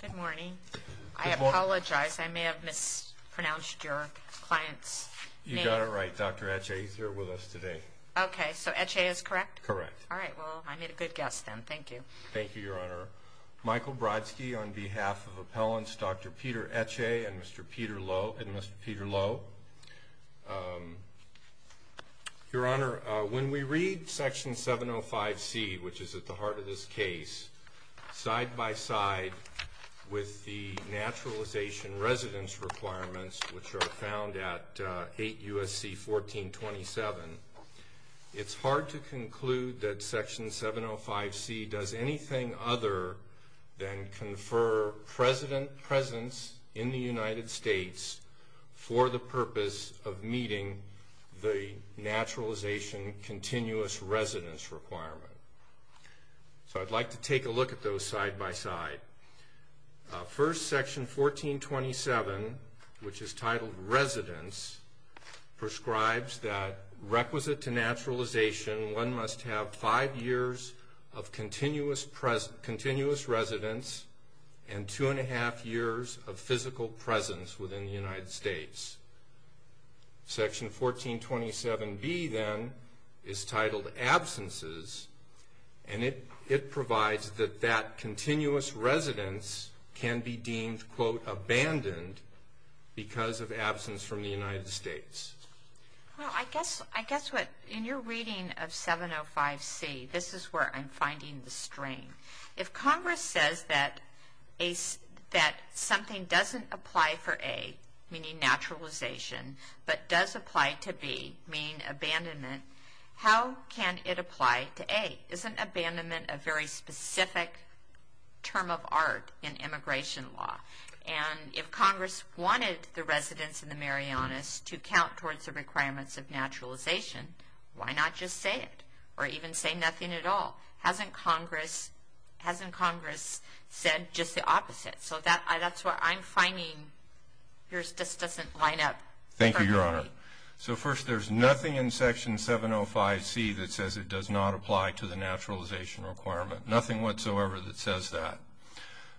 Good morning. I apologize. I may have mispronounced your client's name. You got it right, Dr. Eche. He's here with us today. Okay, so Eche is correct? Correct. All right. Well, I made a good guess then. Thank you. Thank you, Your Honor. Michael Brodsky on behalf of Appellants Dr. Peter Eche and Mr. Peter Lowe. Your Honor, when we read Section 705C, which is at the heart of this case, side by side with the naturalization residence requirements, which are found at 8 U.S.C. 1427, it's hard to conclude that Section 705C does anything other than confer presence in the United States for the purpose of meeting the naturalization continuous residence requirement. So I'd like to take a look at those side by side. First, Section 1427, which is titled Residence, prescribes that requisite to naturalization, one must have five years of continuous residence and two and a half years of physical presence within the United States. Section 1427B, then, is titled Absences, and it provides that that continuous residence can be deemed, quote, abandoned because of absence from the United States. Well, I guess what, in your reading of 705C, this is where I'm finding the strain. If Congress says that something doesn't apply for A, meaning naturalization, but does apply to B, meaning abandonment, how can it apply to A? Isn't abandonment a very specific term of art in immigration law? And if Congress wanted the residence in the Marianas to count towards the requirements of naturalization, why not just say it or even say nothing at all? Hasn't Congress said just the opposite? So that's where I'm finding yours just doesn't line up perfectly. Thank you, Your Honor. So, first, there's nothing in Section 705C that says it does not apply to the naturalization requirement, nothing whatsoever that says that.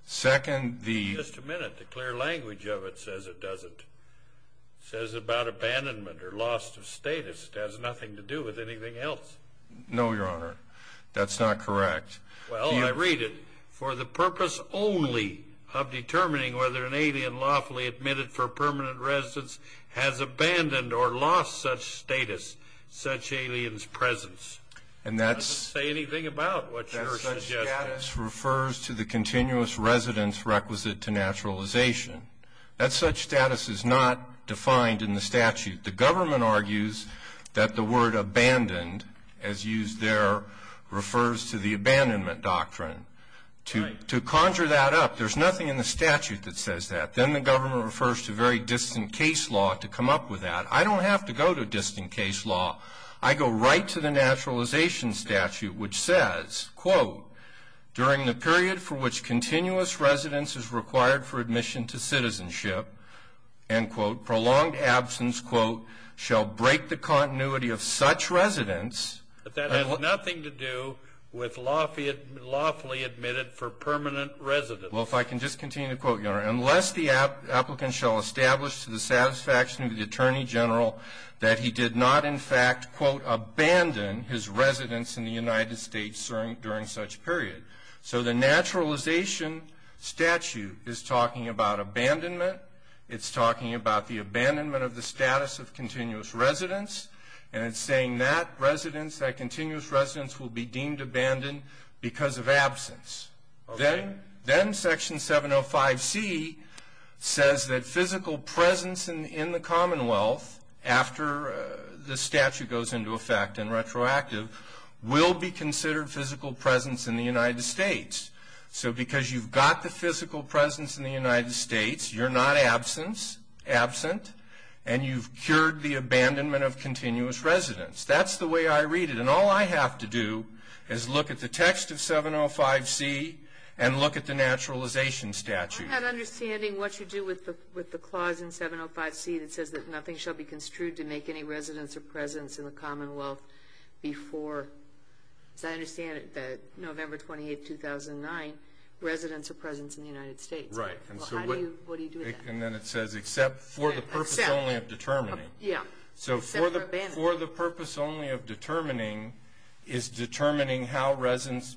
Second, the- Wait just a minute. The clear language of it says it doesn't. It says about abandonment or loss of status it has nothing to do with anything else. No, Your Honor. That's not correct. Well, I read it. For the purpose only of determining whether an alien lawfully admitted for permanent residence has abandoned or lost such status, such alien's presence. And that's- It doesn't say anything about what you're suggesting. That such status refers to the continuous residence requisite to naturalization. That such status is not defined in the statute. The government argues that the word abandoned, as used there, refers to the abandonment doctrine. Right. To conjure that up, there's nothing in the statute that says that. Then the government refers to very distant case law to come up with that. I don't have to go to distant case law. I go right to the naturalization statute, which says, quote, during the period for which continuous residence is required for admission to citizenship, end quote, a prolonged absence, quote, shall break the continuity of such residence. But that has nothing to do with lawfully admitted for permanent residence. Well, if I can just continue the quote, Your Honor. Unless the applicant shall establish to the satisfaction of the Attorney General that he did not, in fact, quote, abandon his residence in the United States during such period. So the naturalization statute is talking about abandonment. It's talking about the abandonment of the status of continuous residence. And it's saying that residence, that continuous residence, will be deemed abandoned because of absence. Okay. Then Section 705C says that physical presence in the Commonwealth, after the statute goes into effect and retroactive, will be considered physical presence in the United States. So because you've got the physical presence in the United States, you're not absent, and you've cured the abandonment of continuous residence. That's the way I read it. And all I have to do is look at the text of 705C and look at the naturalization statute. I'm not understanding what you do with the clause in 705C that says that nothing shall be construed to make any residence or presence in the Commonwealth before, as I understand it, November 28, 2009, residence or presence in the United States. Right. Well, how do you do that? And then it says, except for the purpose only of determining. Yeah. So for the purpose only of determining is determining how residence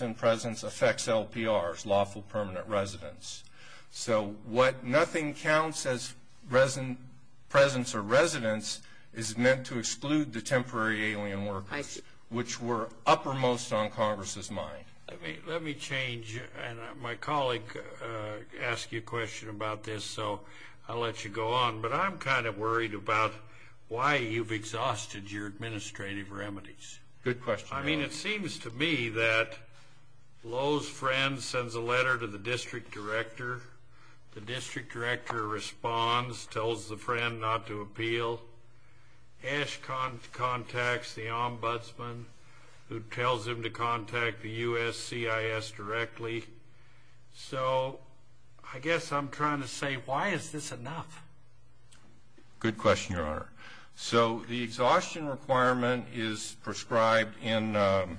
and presence affects LPRs, lawful permanent residence. So what nothing counts as presence or residence is meant to exclude the temporary alien workers. Which were uppermost on Congress's mind. Let me change. And my colleague asked you a question about this, so I'll let you go on. But I'm kind of worried about why you've exhausted your administrative remedies. Good question. I mean, it seems to me that Lowe's friend sends a letter to the district director. The district director responds, tells the friend not to appeal. Ash contacts the ombudsman who tells him to contact the USCIS directly. So I guess I'm trying to say, why is this enough? Good question, Your Honor. So the exhaustion requirement is prescribed in the ‑‑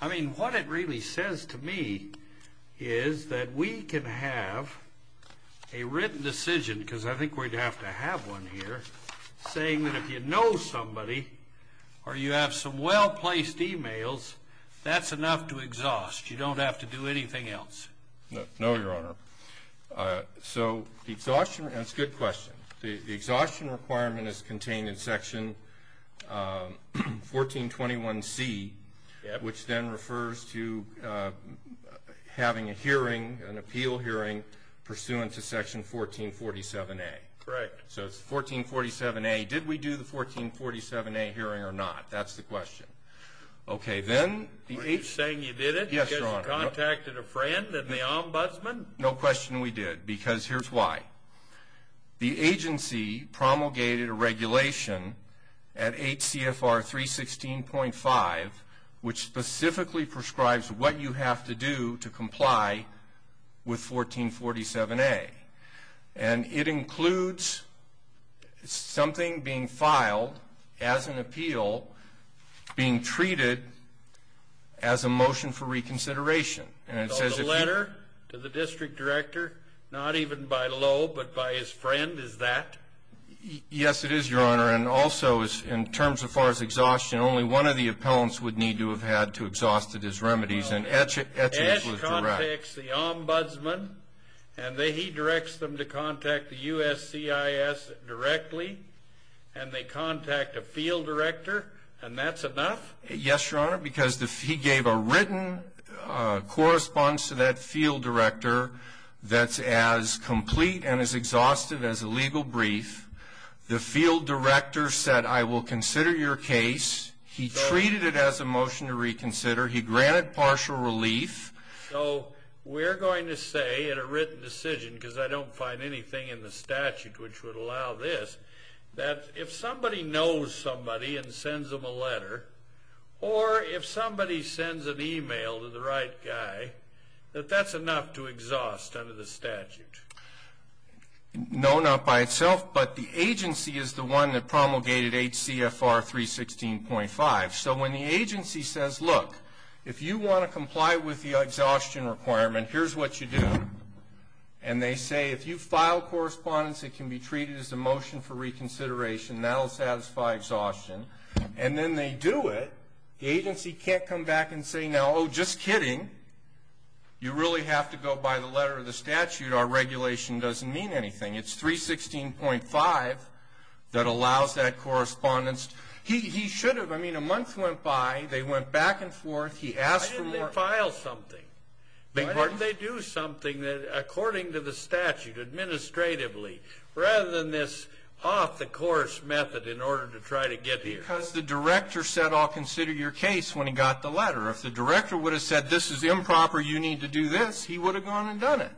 I mean, what it really says to me is that we can have a written decision, because I think we'd have to have one here, saying that if you know somebody or you have some well-placed e-mails, that's enough to exhaust. You don't have to do anything else. No, Your Honor. So the exhaustion ‑‑ that's a good question. The exhaustion requirement is contained in Section 1421C, which then refers to having a hearing, an appeal hearing, pursuant to Section 1447A. Correct. So it's 1447A. Did we do the 1447A hearing or not? That's the question. Okay. Are you saying you did it? Yes, Your Honor. Because you contacted a friend and the ombudsman? No question we did, because here's why. The agency promulgated a regulation at HCFR 316.5, which specifically prescribes what you have to do to comply with 1447A. And it includes something being filed as an appeal, being treated as a motion for reconsideration. So the letter to the district director, not even by Loeb, but by his friend, is that? Yes, it is, Your Honor. And also, in terms of far as exhaustion, only one of the appellants would need to have had to exhaust it as remedies, and Etchings was direct. Etchings contacts the ombudsman, and he directs them to contact the USCIS directly, and they contact a field director, and that's enough? Yes, Your Honor, because he gave a written correspondence to that field director that's as complete and as exhaustive as a legal brief. The field director said, I will consider your case. He treated it as a motion to reconsider. He granted partial relief. So we're going to say in a written decision, because I don't find anything in the statute which would allow this, that if somebody knows somebody and sends them a letter, or if somebody sends an e-mail to the right guy, that that's enough to exhaust under the statute? No, not by itself, but the agency is the one that promulgated HCFR 316.5. So when the agency says, look, if you want to comply with the exhaustion requirement, here's what you do, and they say, if you file correspondence, it can be treated as a motion for reconsideration. That will satisfy exhaustion. And then they do it. The agency can't come back and say, no, just kidding. You really have to go by the letter of the statute. Our regulation doesn't mean anything. It's 316.5 that allows that correspondence. He should have. I mean, a month went by. They went back and forth. He asked for more. Why didn't they file something? Why didn't they do something according to the statute, administratively, rather than this off-the-course method in order to try to get here? Because the director said, I'll consider your case when he got the letter. If the director would have said, this is improper, you need to do this, he would have gone and done it.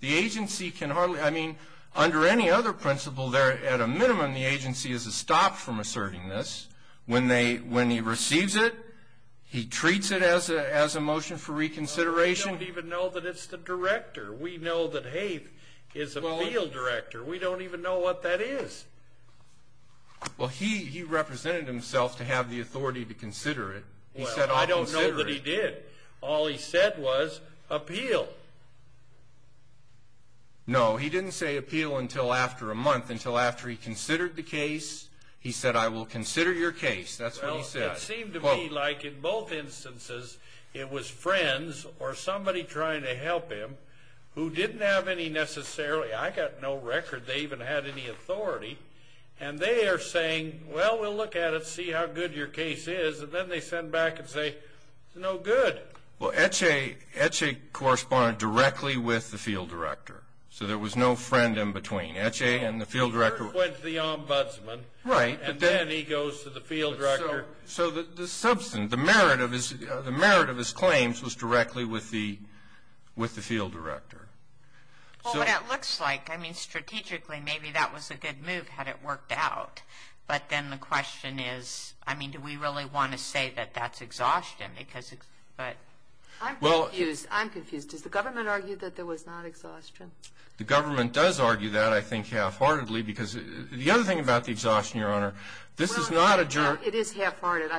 The agency can hardly – I mean, under any other principle there, at a minimum, the agency is stopped from asserting this. When he receives it, he treats it as a motion for reconsideration. We don't even know that it's the director. We know that Haith is a field director. We don't even know what that is. Well, he represented himself to have the authority to consider it. He said, I'll consider it. Well, I don't know that he did. All he said was, appeal. No, he didn't say appeal until after a month, until after he considered the case. He said, I will consider your case. That's what he said. Well, it seemed to me like in both instances it was friends or somebody trying to help him who didn't have any necessarily – I got no record they even had any authority. And they are saying, well, we'll look at it, see how good your case is. And then they send back and say, it's no good. Well, Ece corresponded directly with the field director. So there was no friend in between. Ece and the field director – With the ombudsman. Right. And then he goes to the field director. So the merit of his claims was directly with the field director. Well, what it looks like, I mean, strategically, maybe that was a good move had it worked out. But then the question is, I mean, do we really want to say that that's exhaustion? Does the government argue that there was not exhaustion? The government does argue that, I think, half-heartedly. Because the other thing about the exhaustion, Your Honor, this is not a – Well, it is half-hearted.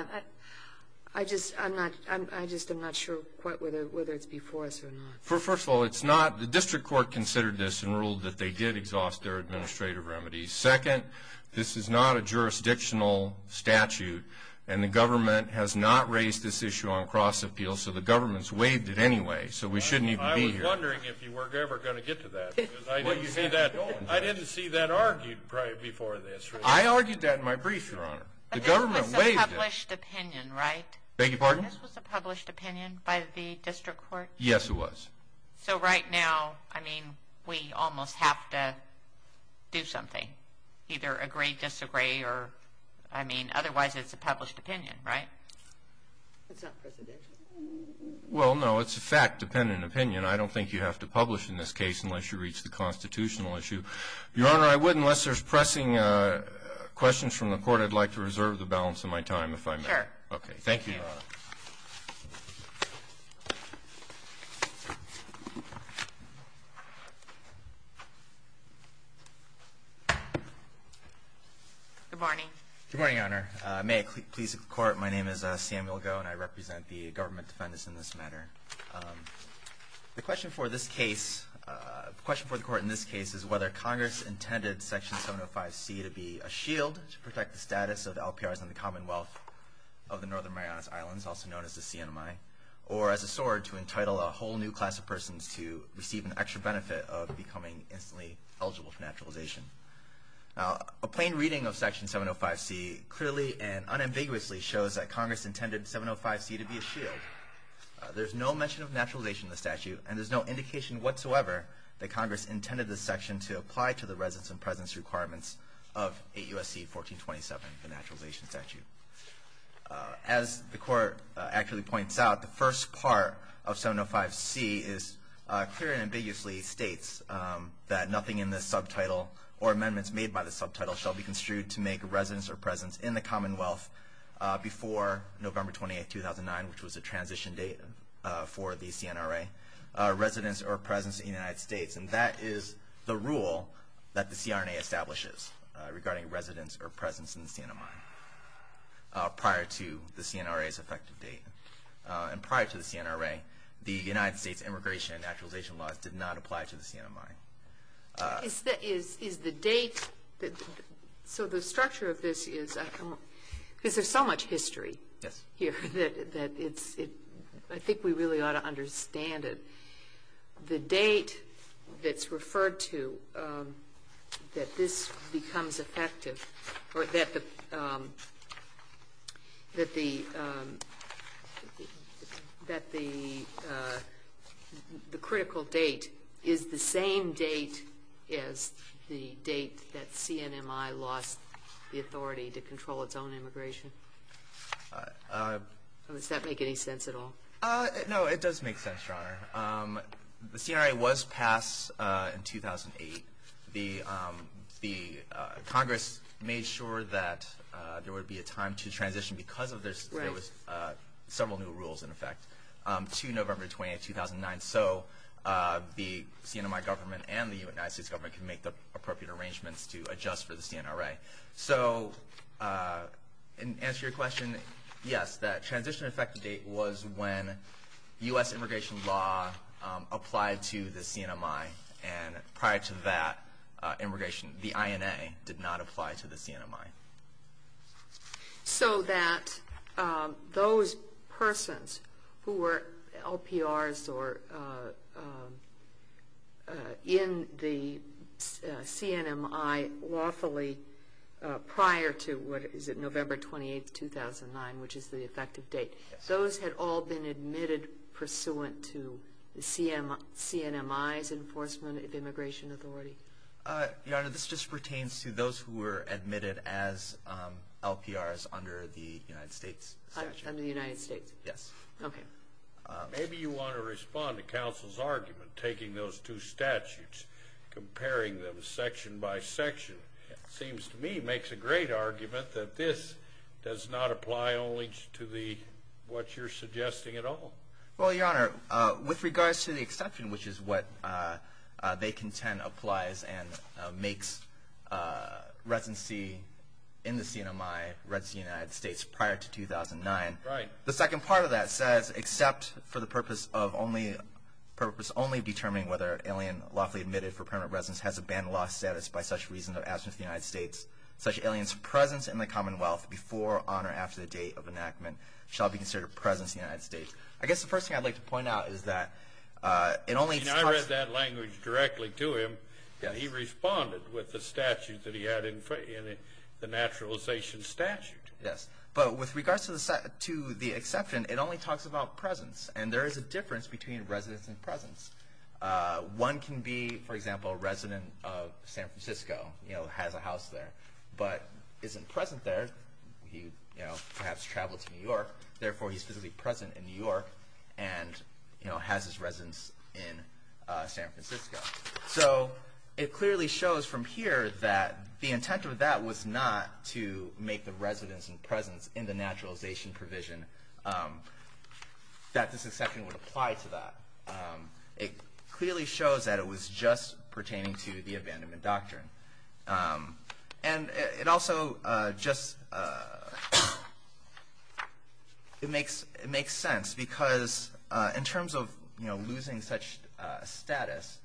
I just am not sure quite whether it's before us or not. First of all, it's not – the district court considered this and ruled that they did exhaust their administrative remedies. Second, this is not a jurisdictional statute. And the government has not raised this issue on cross-appeal. So the government's waived it anyway. So we shouldn't even be here. I was wondering if you were ever going to get to that. Because I didn't see that argued before this. I argued that in my brief, Your Honor. The government waived it. But this was a published opinion, right? Beg your pardon? This was a published opinion by the district court? Yes, it was. So right now, I mean, we almost have to do something, either agree, disagree, or – I mean, otherwise it's a published opinion, right? It's not presidential. Well, no, it's a fact-dependent opinion. I don't think you have to publish in this case unless you reach the constitutional issue. Your Honor, I would, unless there's pressing questions from the Court, I'd like to reserve the balance of my time if I may. Okay. Thank you, Your Honor. Good morning. Good morning, Your Honor. May it please the Court, my name is Samuel Goh and I represent the government defendants in this matter. The question for this case, the question for the Court in this case, is whether Congress intended Section 705C to be a shield to protect the status of LPRs in the Commonwealth of the Northern Marianas Islands, also known as the CNMI, or as a sword to entitle a whole new class of persons to receive an extra benefit of becoming instantly eligible for naturalization. Now, a plain reading of Section 705C clearly and unambiguously shows that Congress intended 705C to be a shield. There's no mention of naturalization in the statute, and there's no indication whatsoever that Congress intended this section to apply to the residence and presence requirements of 8 U.S.C. 1427, the naturalization statute. As the Court accurately points out, the first part of 705C is, clearly and ambiguously states that nothing in this subtitle or amendments made by this subtitle shall be construed to make residence or presence in the Commonwealth before November 28, 2009, which was a transition date for the CNRA, residence or presence in the United States. And that is the rule that the CRNA establishes regarding residence or presence in the CNMI prior to the CNRA's effective date. And prior to the CNRA, the United States immigration and naturalization laws did not apply to the CNMI. Is the date so the structure of this is because there's so much history here that it's I think we really ought to understand it. The date that's referred to that this becomes effective or that the critical date is the same date as the date that CNMI lost the authority to control its own immigration? Does that make any sense at all? No, it does make sense, Your Honor. The CNRI was passed in 2008. The Congress made sure that there would be a time to transition because there was several new rules in effect to November 28, 2009. So the CNMI government and the United States government can make the appropriate arrangements to adjust for the CNRA. So in answer to your question, yes, that transition effective date was when U.S. immigration law applied to the CNMI. And prior to that immigration, the INA did not apply to the CNMI. So that those persons who were LPRs or in the CNMI lawfully prior to, what is it, November 28, 2009, which is the effective date, those had all been admitted pursuant to CNMI's enforcement of immigration authority? Your Honor, this just pertains to those who were admitted as LPRs under the United States statute. Under the United States? Yes. Okay. Maybe you want to respond to counsel's argument, taking those two statutes, comparing them section by section. It seems to me it makes a great argument that this does not apply only to what you're suggesting at all. Well, Your Honor, with regards to the exception, which is what they contend applies and makes residency in the CNMI residency in the United States prior to 2009. Right. The second part of that says, except for the purpose of only determining whether an alien lawfully admitted for permanent residence has a banned law status by such reason of absence of the United States, such aliens' presence in the Commonwealth before, on, or after the date of enactment shall be considered present in the United States. I guess the first thing I'd like to point out is that it only talks to the- I mean, I read that language directly to him, and he responded with the statute that he had in the naturalization statute. Yes. But with regards to the exception, it only talks about presence, and there is a difference between residence and presence. One can be, for example, a resident of San Francisco, you know, has a house there, but isn't present there. He, you know, perhaps traveled to New York, therefore he's physically present in New York and, you know, has his residence in San Francisco. So it clearly shows from here that the intent of that was not to make the residence and presence in the naturalization provision that this exception would apply to that. It clearly shows that it was just pertaining to the abandonment doctrine. And it also just makes sense because in terms of, you know, losing such status,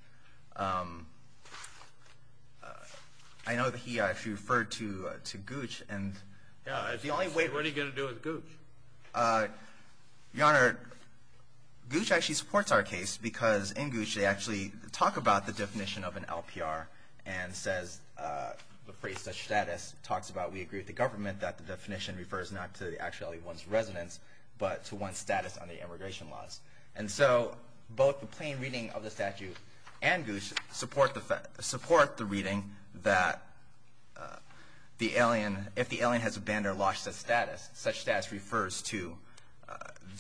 I know that he actually referred to Gooch, and the only way- What are you going to do with Gooch? Your Honor, Gooch actually supports our case because in Gooch they actually talk about the definition of an LPR and says the phrase such status talks about we agree with the government that the definition refers not to the actuality of one's residence but to one's status under immigration laws. And so both the plain reading of the statute and Gooch support the reading that the alien- such status refers to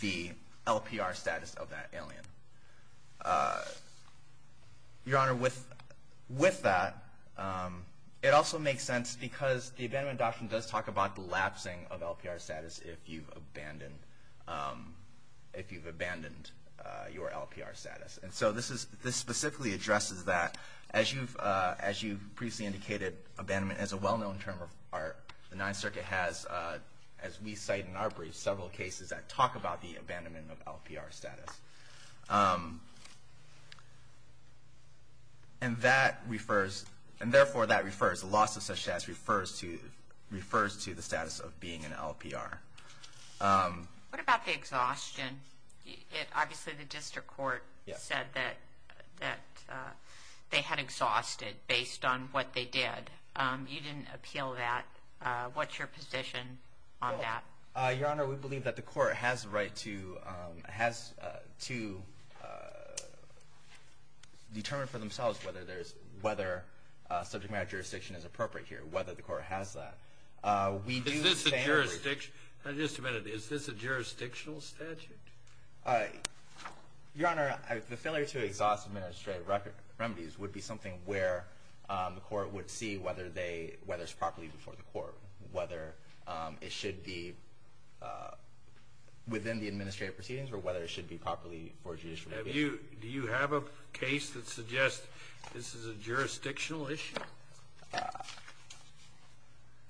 the LPR status of that alien. Your Honor, with that, it also makes sense because the abandonment doctrine does talk about the lapsing of LPR status if you've abandoned your LPR status. And so this specifically addresses that. As you've previously indicated, abandonment is a well-known term. The Ninth Circuit has, as we cite in our brief, several cases that talk about the abandonment of LPR status. And that refers-and therefore that refers- the loss of such status refers to the status of being an LPR. What about the exhaustion? Obviously the district court said that they had exhausted based on what they did. You didn't appeal that. What's your position on that? Your Honor, we believe that the court has the right to determine for themselves whether subject matter jurisdiction is appropriate here, whether the court has that. Is this a jurisdictional statute? Your Honor, the failure to exhaust administrative remedies would be something where the court would see whether it's properly before the court, whether it should be within the administrative proceedings or whether it should be properly for judicial review. Do you have a case that suggests this is a jurisdictional issue?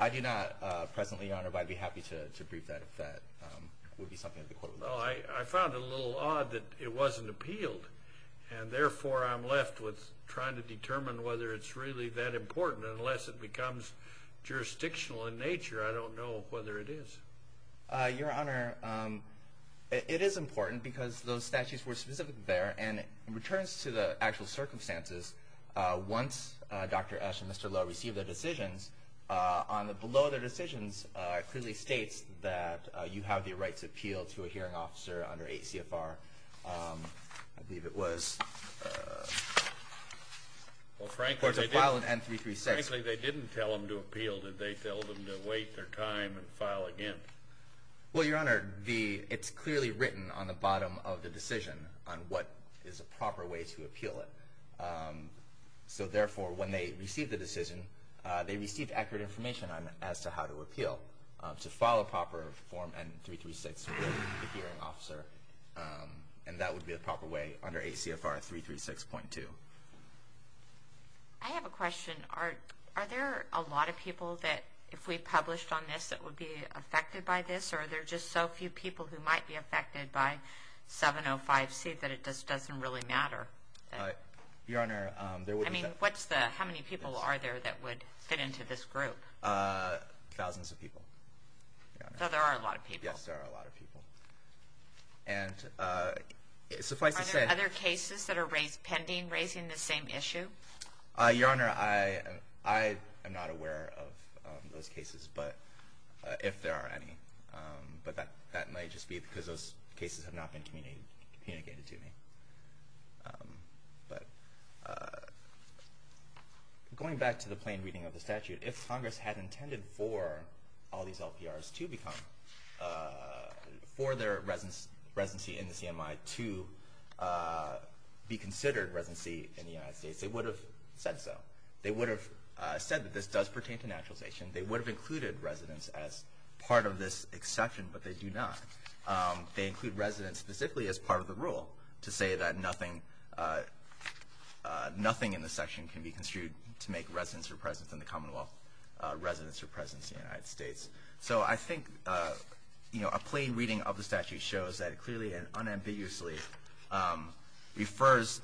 I do not presently, Your Honor, but I'd be happy to brief that if that would be something that the court would look at. Well, I found it a little odd that it wasn't appealed. And therefore, I'm left with trying to determine whether it's really that important. Unless it becomes jurisdictional in nature, I don't know whether it is. Your Honor, it is important because those statutes were specific there and it returns to the actual circumstances once Dr. Esch and Mr. Lowe receive their decisions. Below their decisions, it clearly states that you have the right to appeal to a hearing officer under ACFR, I believe it was, or to file an N-336. Well, frankly, they didn't tell them to appeal. They told them to wait their time and file again. Well, Your Honor, it's clearly written on the bottom of the decision on what is a proper way to appeal it. So therefore, when they receive the decision, they receive accurate information as to how to appeal to file a proper form N-336 with the hearing officer. And that would be the proper way under ACFR 336.2. I have a question. Are there a lot of people that, if we published on this, that would be affected by this? Or are there just so few people who might be affected by 705C that it just doesn't really matter? Your Honor, there would be... I mean, how many people are there that would fit into this group? Thousands of people. So there are a lot of people. Yes, there are a lot of people. And suffice to say... Are there other cases that are pending raising this same issue? Your Honor, I am not aware of those cases, if there are any. But that might just be because those cases have not been communicated to me. But going back to the plain reading of the statute, if Congress had intended for all these LPRs to become... for their residency in the CMI to be considered residency in the United States, they would have said so. They would have said that this does pertain to naturalization. They would have included residents as part of this exception, but they do not. They include residents specifically as part of the rule to say that nothing in this section can be construed to make residents or presence in the Commonwealth residents or presence in the United States. So I think a plain reading of the statute shows that it clearly and unambiguously refers...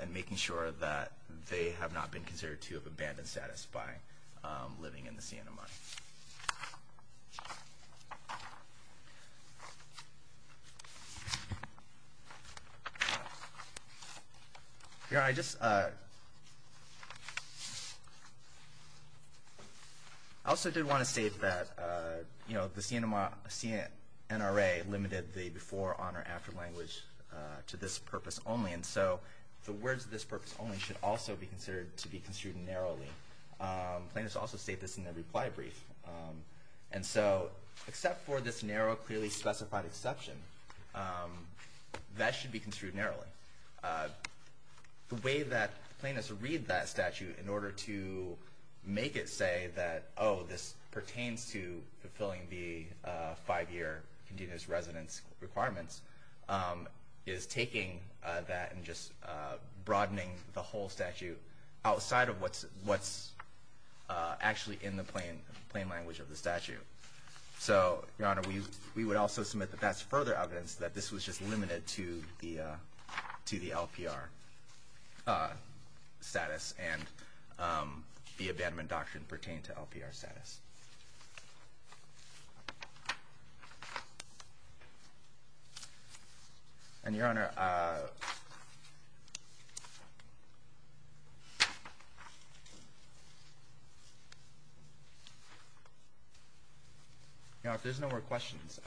and making sure that they have not been considered to have abandoned status by living in the CMI. Your Honor, I just... I also did want to state that the CNRA limited the before, on, or after language to this purpose only. And so the words, this purpose only, should also be considered to be construed narrowly. Plaintiffs also state this in their reply brief. And so, except for this narrow, clearly specified exception, that should be construed narrowly. The way that plaintiffs read that statute in order to make it say that, oh, this pertains to fulfilling the five-year continuous residence requirements, is taking that and just broadening the whole statute outside of what's actually in the plain language of the statute. So, Your Honor, we would also submit that that's further evidence that this was just limited to the LPR status and the abandonment doctrine pertained to LPR status. And, Your Honor... Your Honor, if there's no more questions...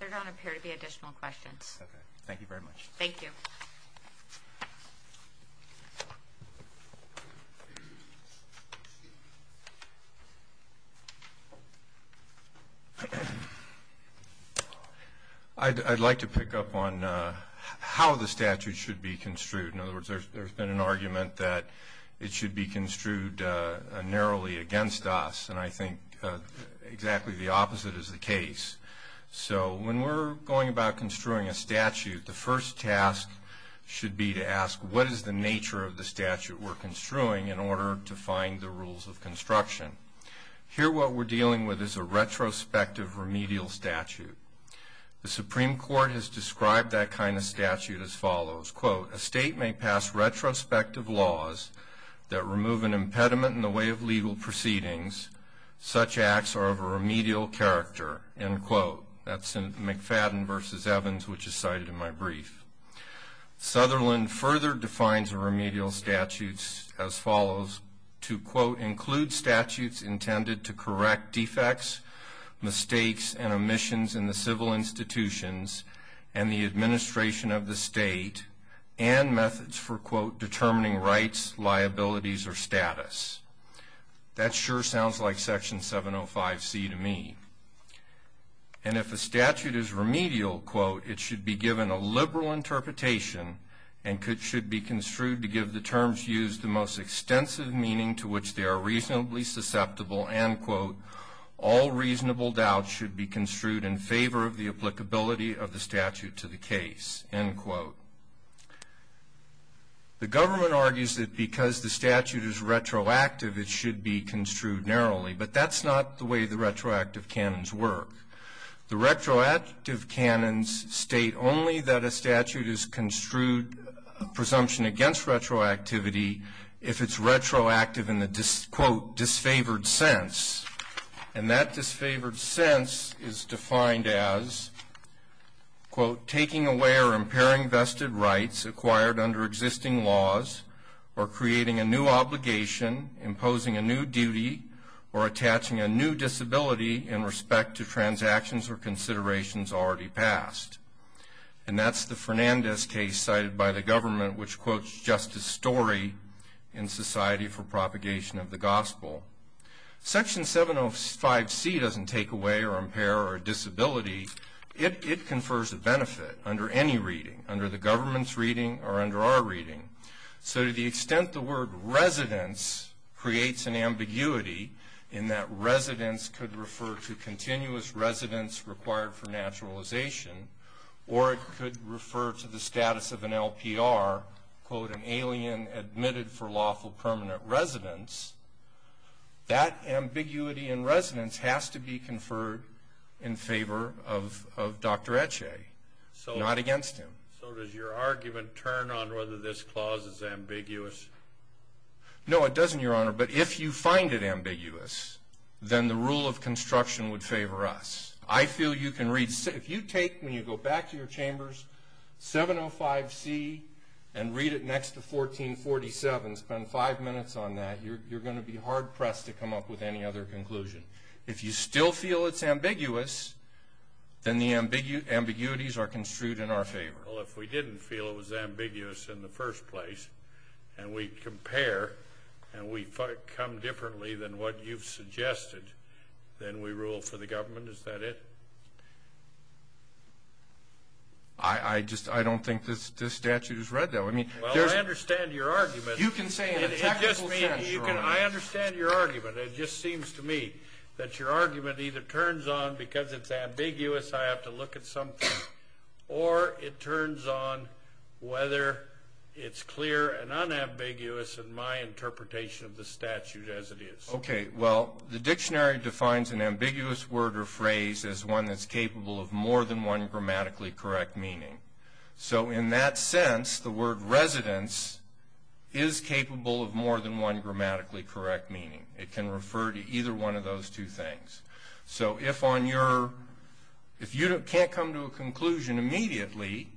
There don't appear to be additional questions. Okay. Thank you very much. Thank you. I'd like to pick up on how the statute should be construed. In other words, there's been an argument that it should be construed narrowly against us. And I think exactly the opposite is the case. So, when we're going about construing a statute, the first task should be to ask, what is the nature of the statute we're construing in order to find the rules of construction? Here, what we're dealing with is a retrospective remedial statute. The Supreme Court has described that kind of statute as follows. Quote, a state may pass retrospective laws that remove an impediment in the way of legal proceedings. Such acts are of a remedial character. End quote. That's in McFadden v. Evans, which is cited in my brief. Sutherland further defines a remedial statute as follows. To, quote, include statutes intended to correct defects, mistakes, and omissions in the civil institutions and the administration of the state and methods for, quote, determining rights, liabilities, or status. That sure sounds like Section 705C to me. And if a statute is remedial, quote, it should be given a liberal interpretation and should be construed to give the terms used the most extensive meaning to which they are reasonably susceptible. End quote. All reasonable doubts should be construed in favor of the applicability of the statute to the case. End quote. The government argues that because the statute is retroactive, it should be construed narrowly. But that's not the way the retroactive canons work. The retroactive canons state only that a statute is construed presumption against retroactivity if it's retroactive in the, quote, disfavored sense. And that disfavored sense is defined as, quote, taking away or impairing vested rights acquired under existing laws or creating a new obligation, imposing a new duty, or attaching a new disability in respect to transactions or considerations already passed. And that's the Fernandez case cited by the government, which quotes just a story in Society for Propagation of the Gospel. Section 705C doesn't take away or impair a disability. It confers a benefit under any reading, under the government's reading or under our reading. So to the extent the word residence creates an ambiguity in that residence could refer to continuous residence required for naturalization or it could refer to the status of an LPR, quote, an alien admitted for lawful permanent residence, that ambiguity in residence has to be conferred in favor of Dr. Etche, not against him. So does your argument turn on whether this clause is ambiguous? No, it doesn't, Your Honor. But if you find it ambiguous, then the rule of construction would favor us. I feel you can read – if you take, when you go back to your chambers, 705C and read it next to 1447, spend five minutes on that, you're going to be hard-pressed to come up with any other conclusion. If you still feel it's ambiguous, then the ambiguities are construed in our favor. Well, if we didn't feel it was ambiguous in the first place and we compare and we come differently than what you've suggested, then we rule for the government, is that it? I don't think this statute is read that way. Well, I understand your argument. It just seems to me that your argument either turns on because it's ambiguous, I have to look at something, or it turns on whether it's clear and unambiguous in my interpretation of the statute as it is. Okay, well, the dictionary defines an ambiguous word or phrase as one that's capable of more than one grammatically correct meaning. So in that sense, the word residence is capable of more than one grammatically correct meaning. It can refer to either one of those two things. So if you can't come to a conclusion immediately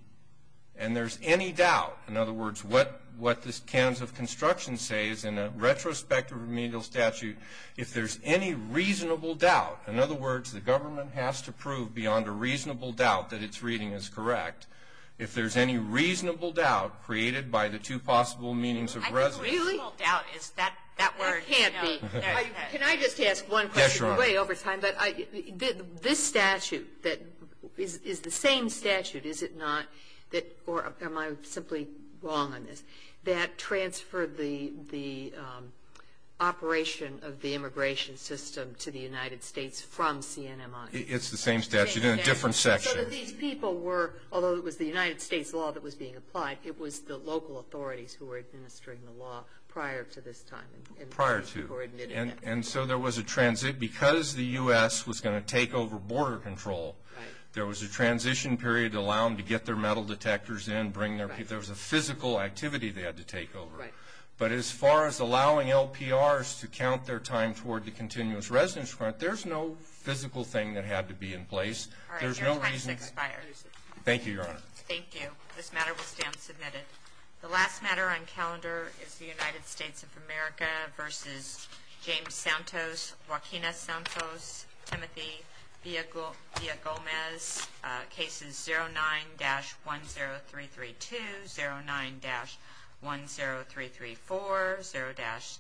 and there's any doubt, in other words, what the canons of construction say is in a retrospective remedial statute, if there's any reasonable doubt, in other words, the government has to prove beyond a reasonable doubt that its reading is correct, if there's any reasonable doubt created by the two possible meanings of residence. I think reasonable doubt is that word. It can't be. Can I just ask one question? Yes, Your Honor. This statute that is the same statute, is it not, or am I simply wrong on this, that transferred the operation of the immigration system to the United States from CNMI? It's the same statute in a different section. So that these people were, although it was the United States law that was being applied, it was the local authorities who were administering the law prior to this time. Prior to. And so there was a transit. Because the U.S. was going to take over border control, there was a transition period to allow them to get their metal detectors in. There was a physical activity they had to take over. But as far as allowing LPRs to count their time toward the continuous residence front, there's no physical thing that had to be in place. There's no reason. Your time has expired. Thank you, Your Honor. Thank you. This matter will stand submitted. The last matter on calendar is the United States of America v. James Santos, Joaquina Santos, Timothy Villagomez. Cases 09-10332, 09-10334,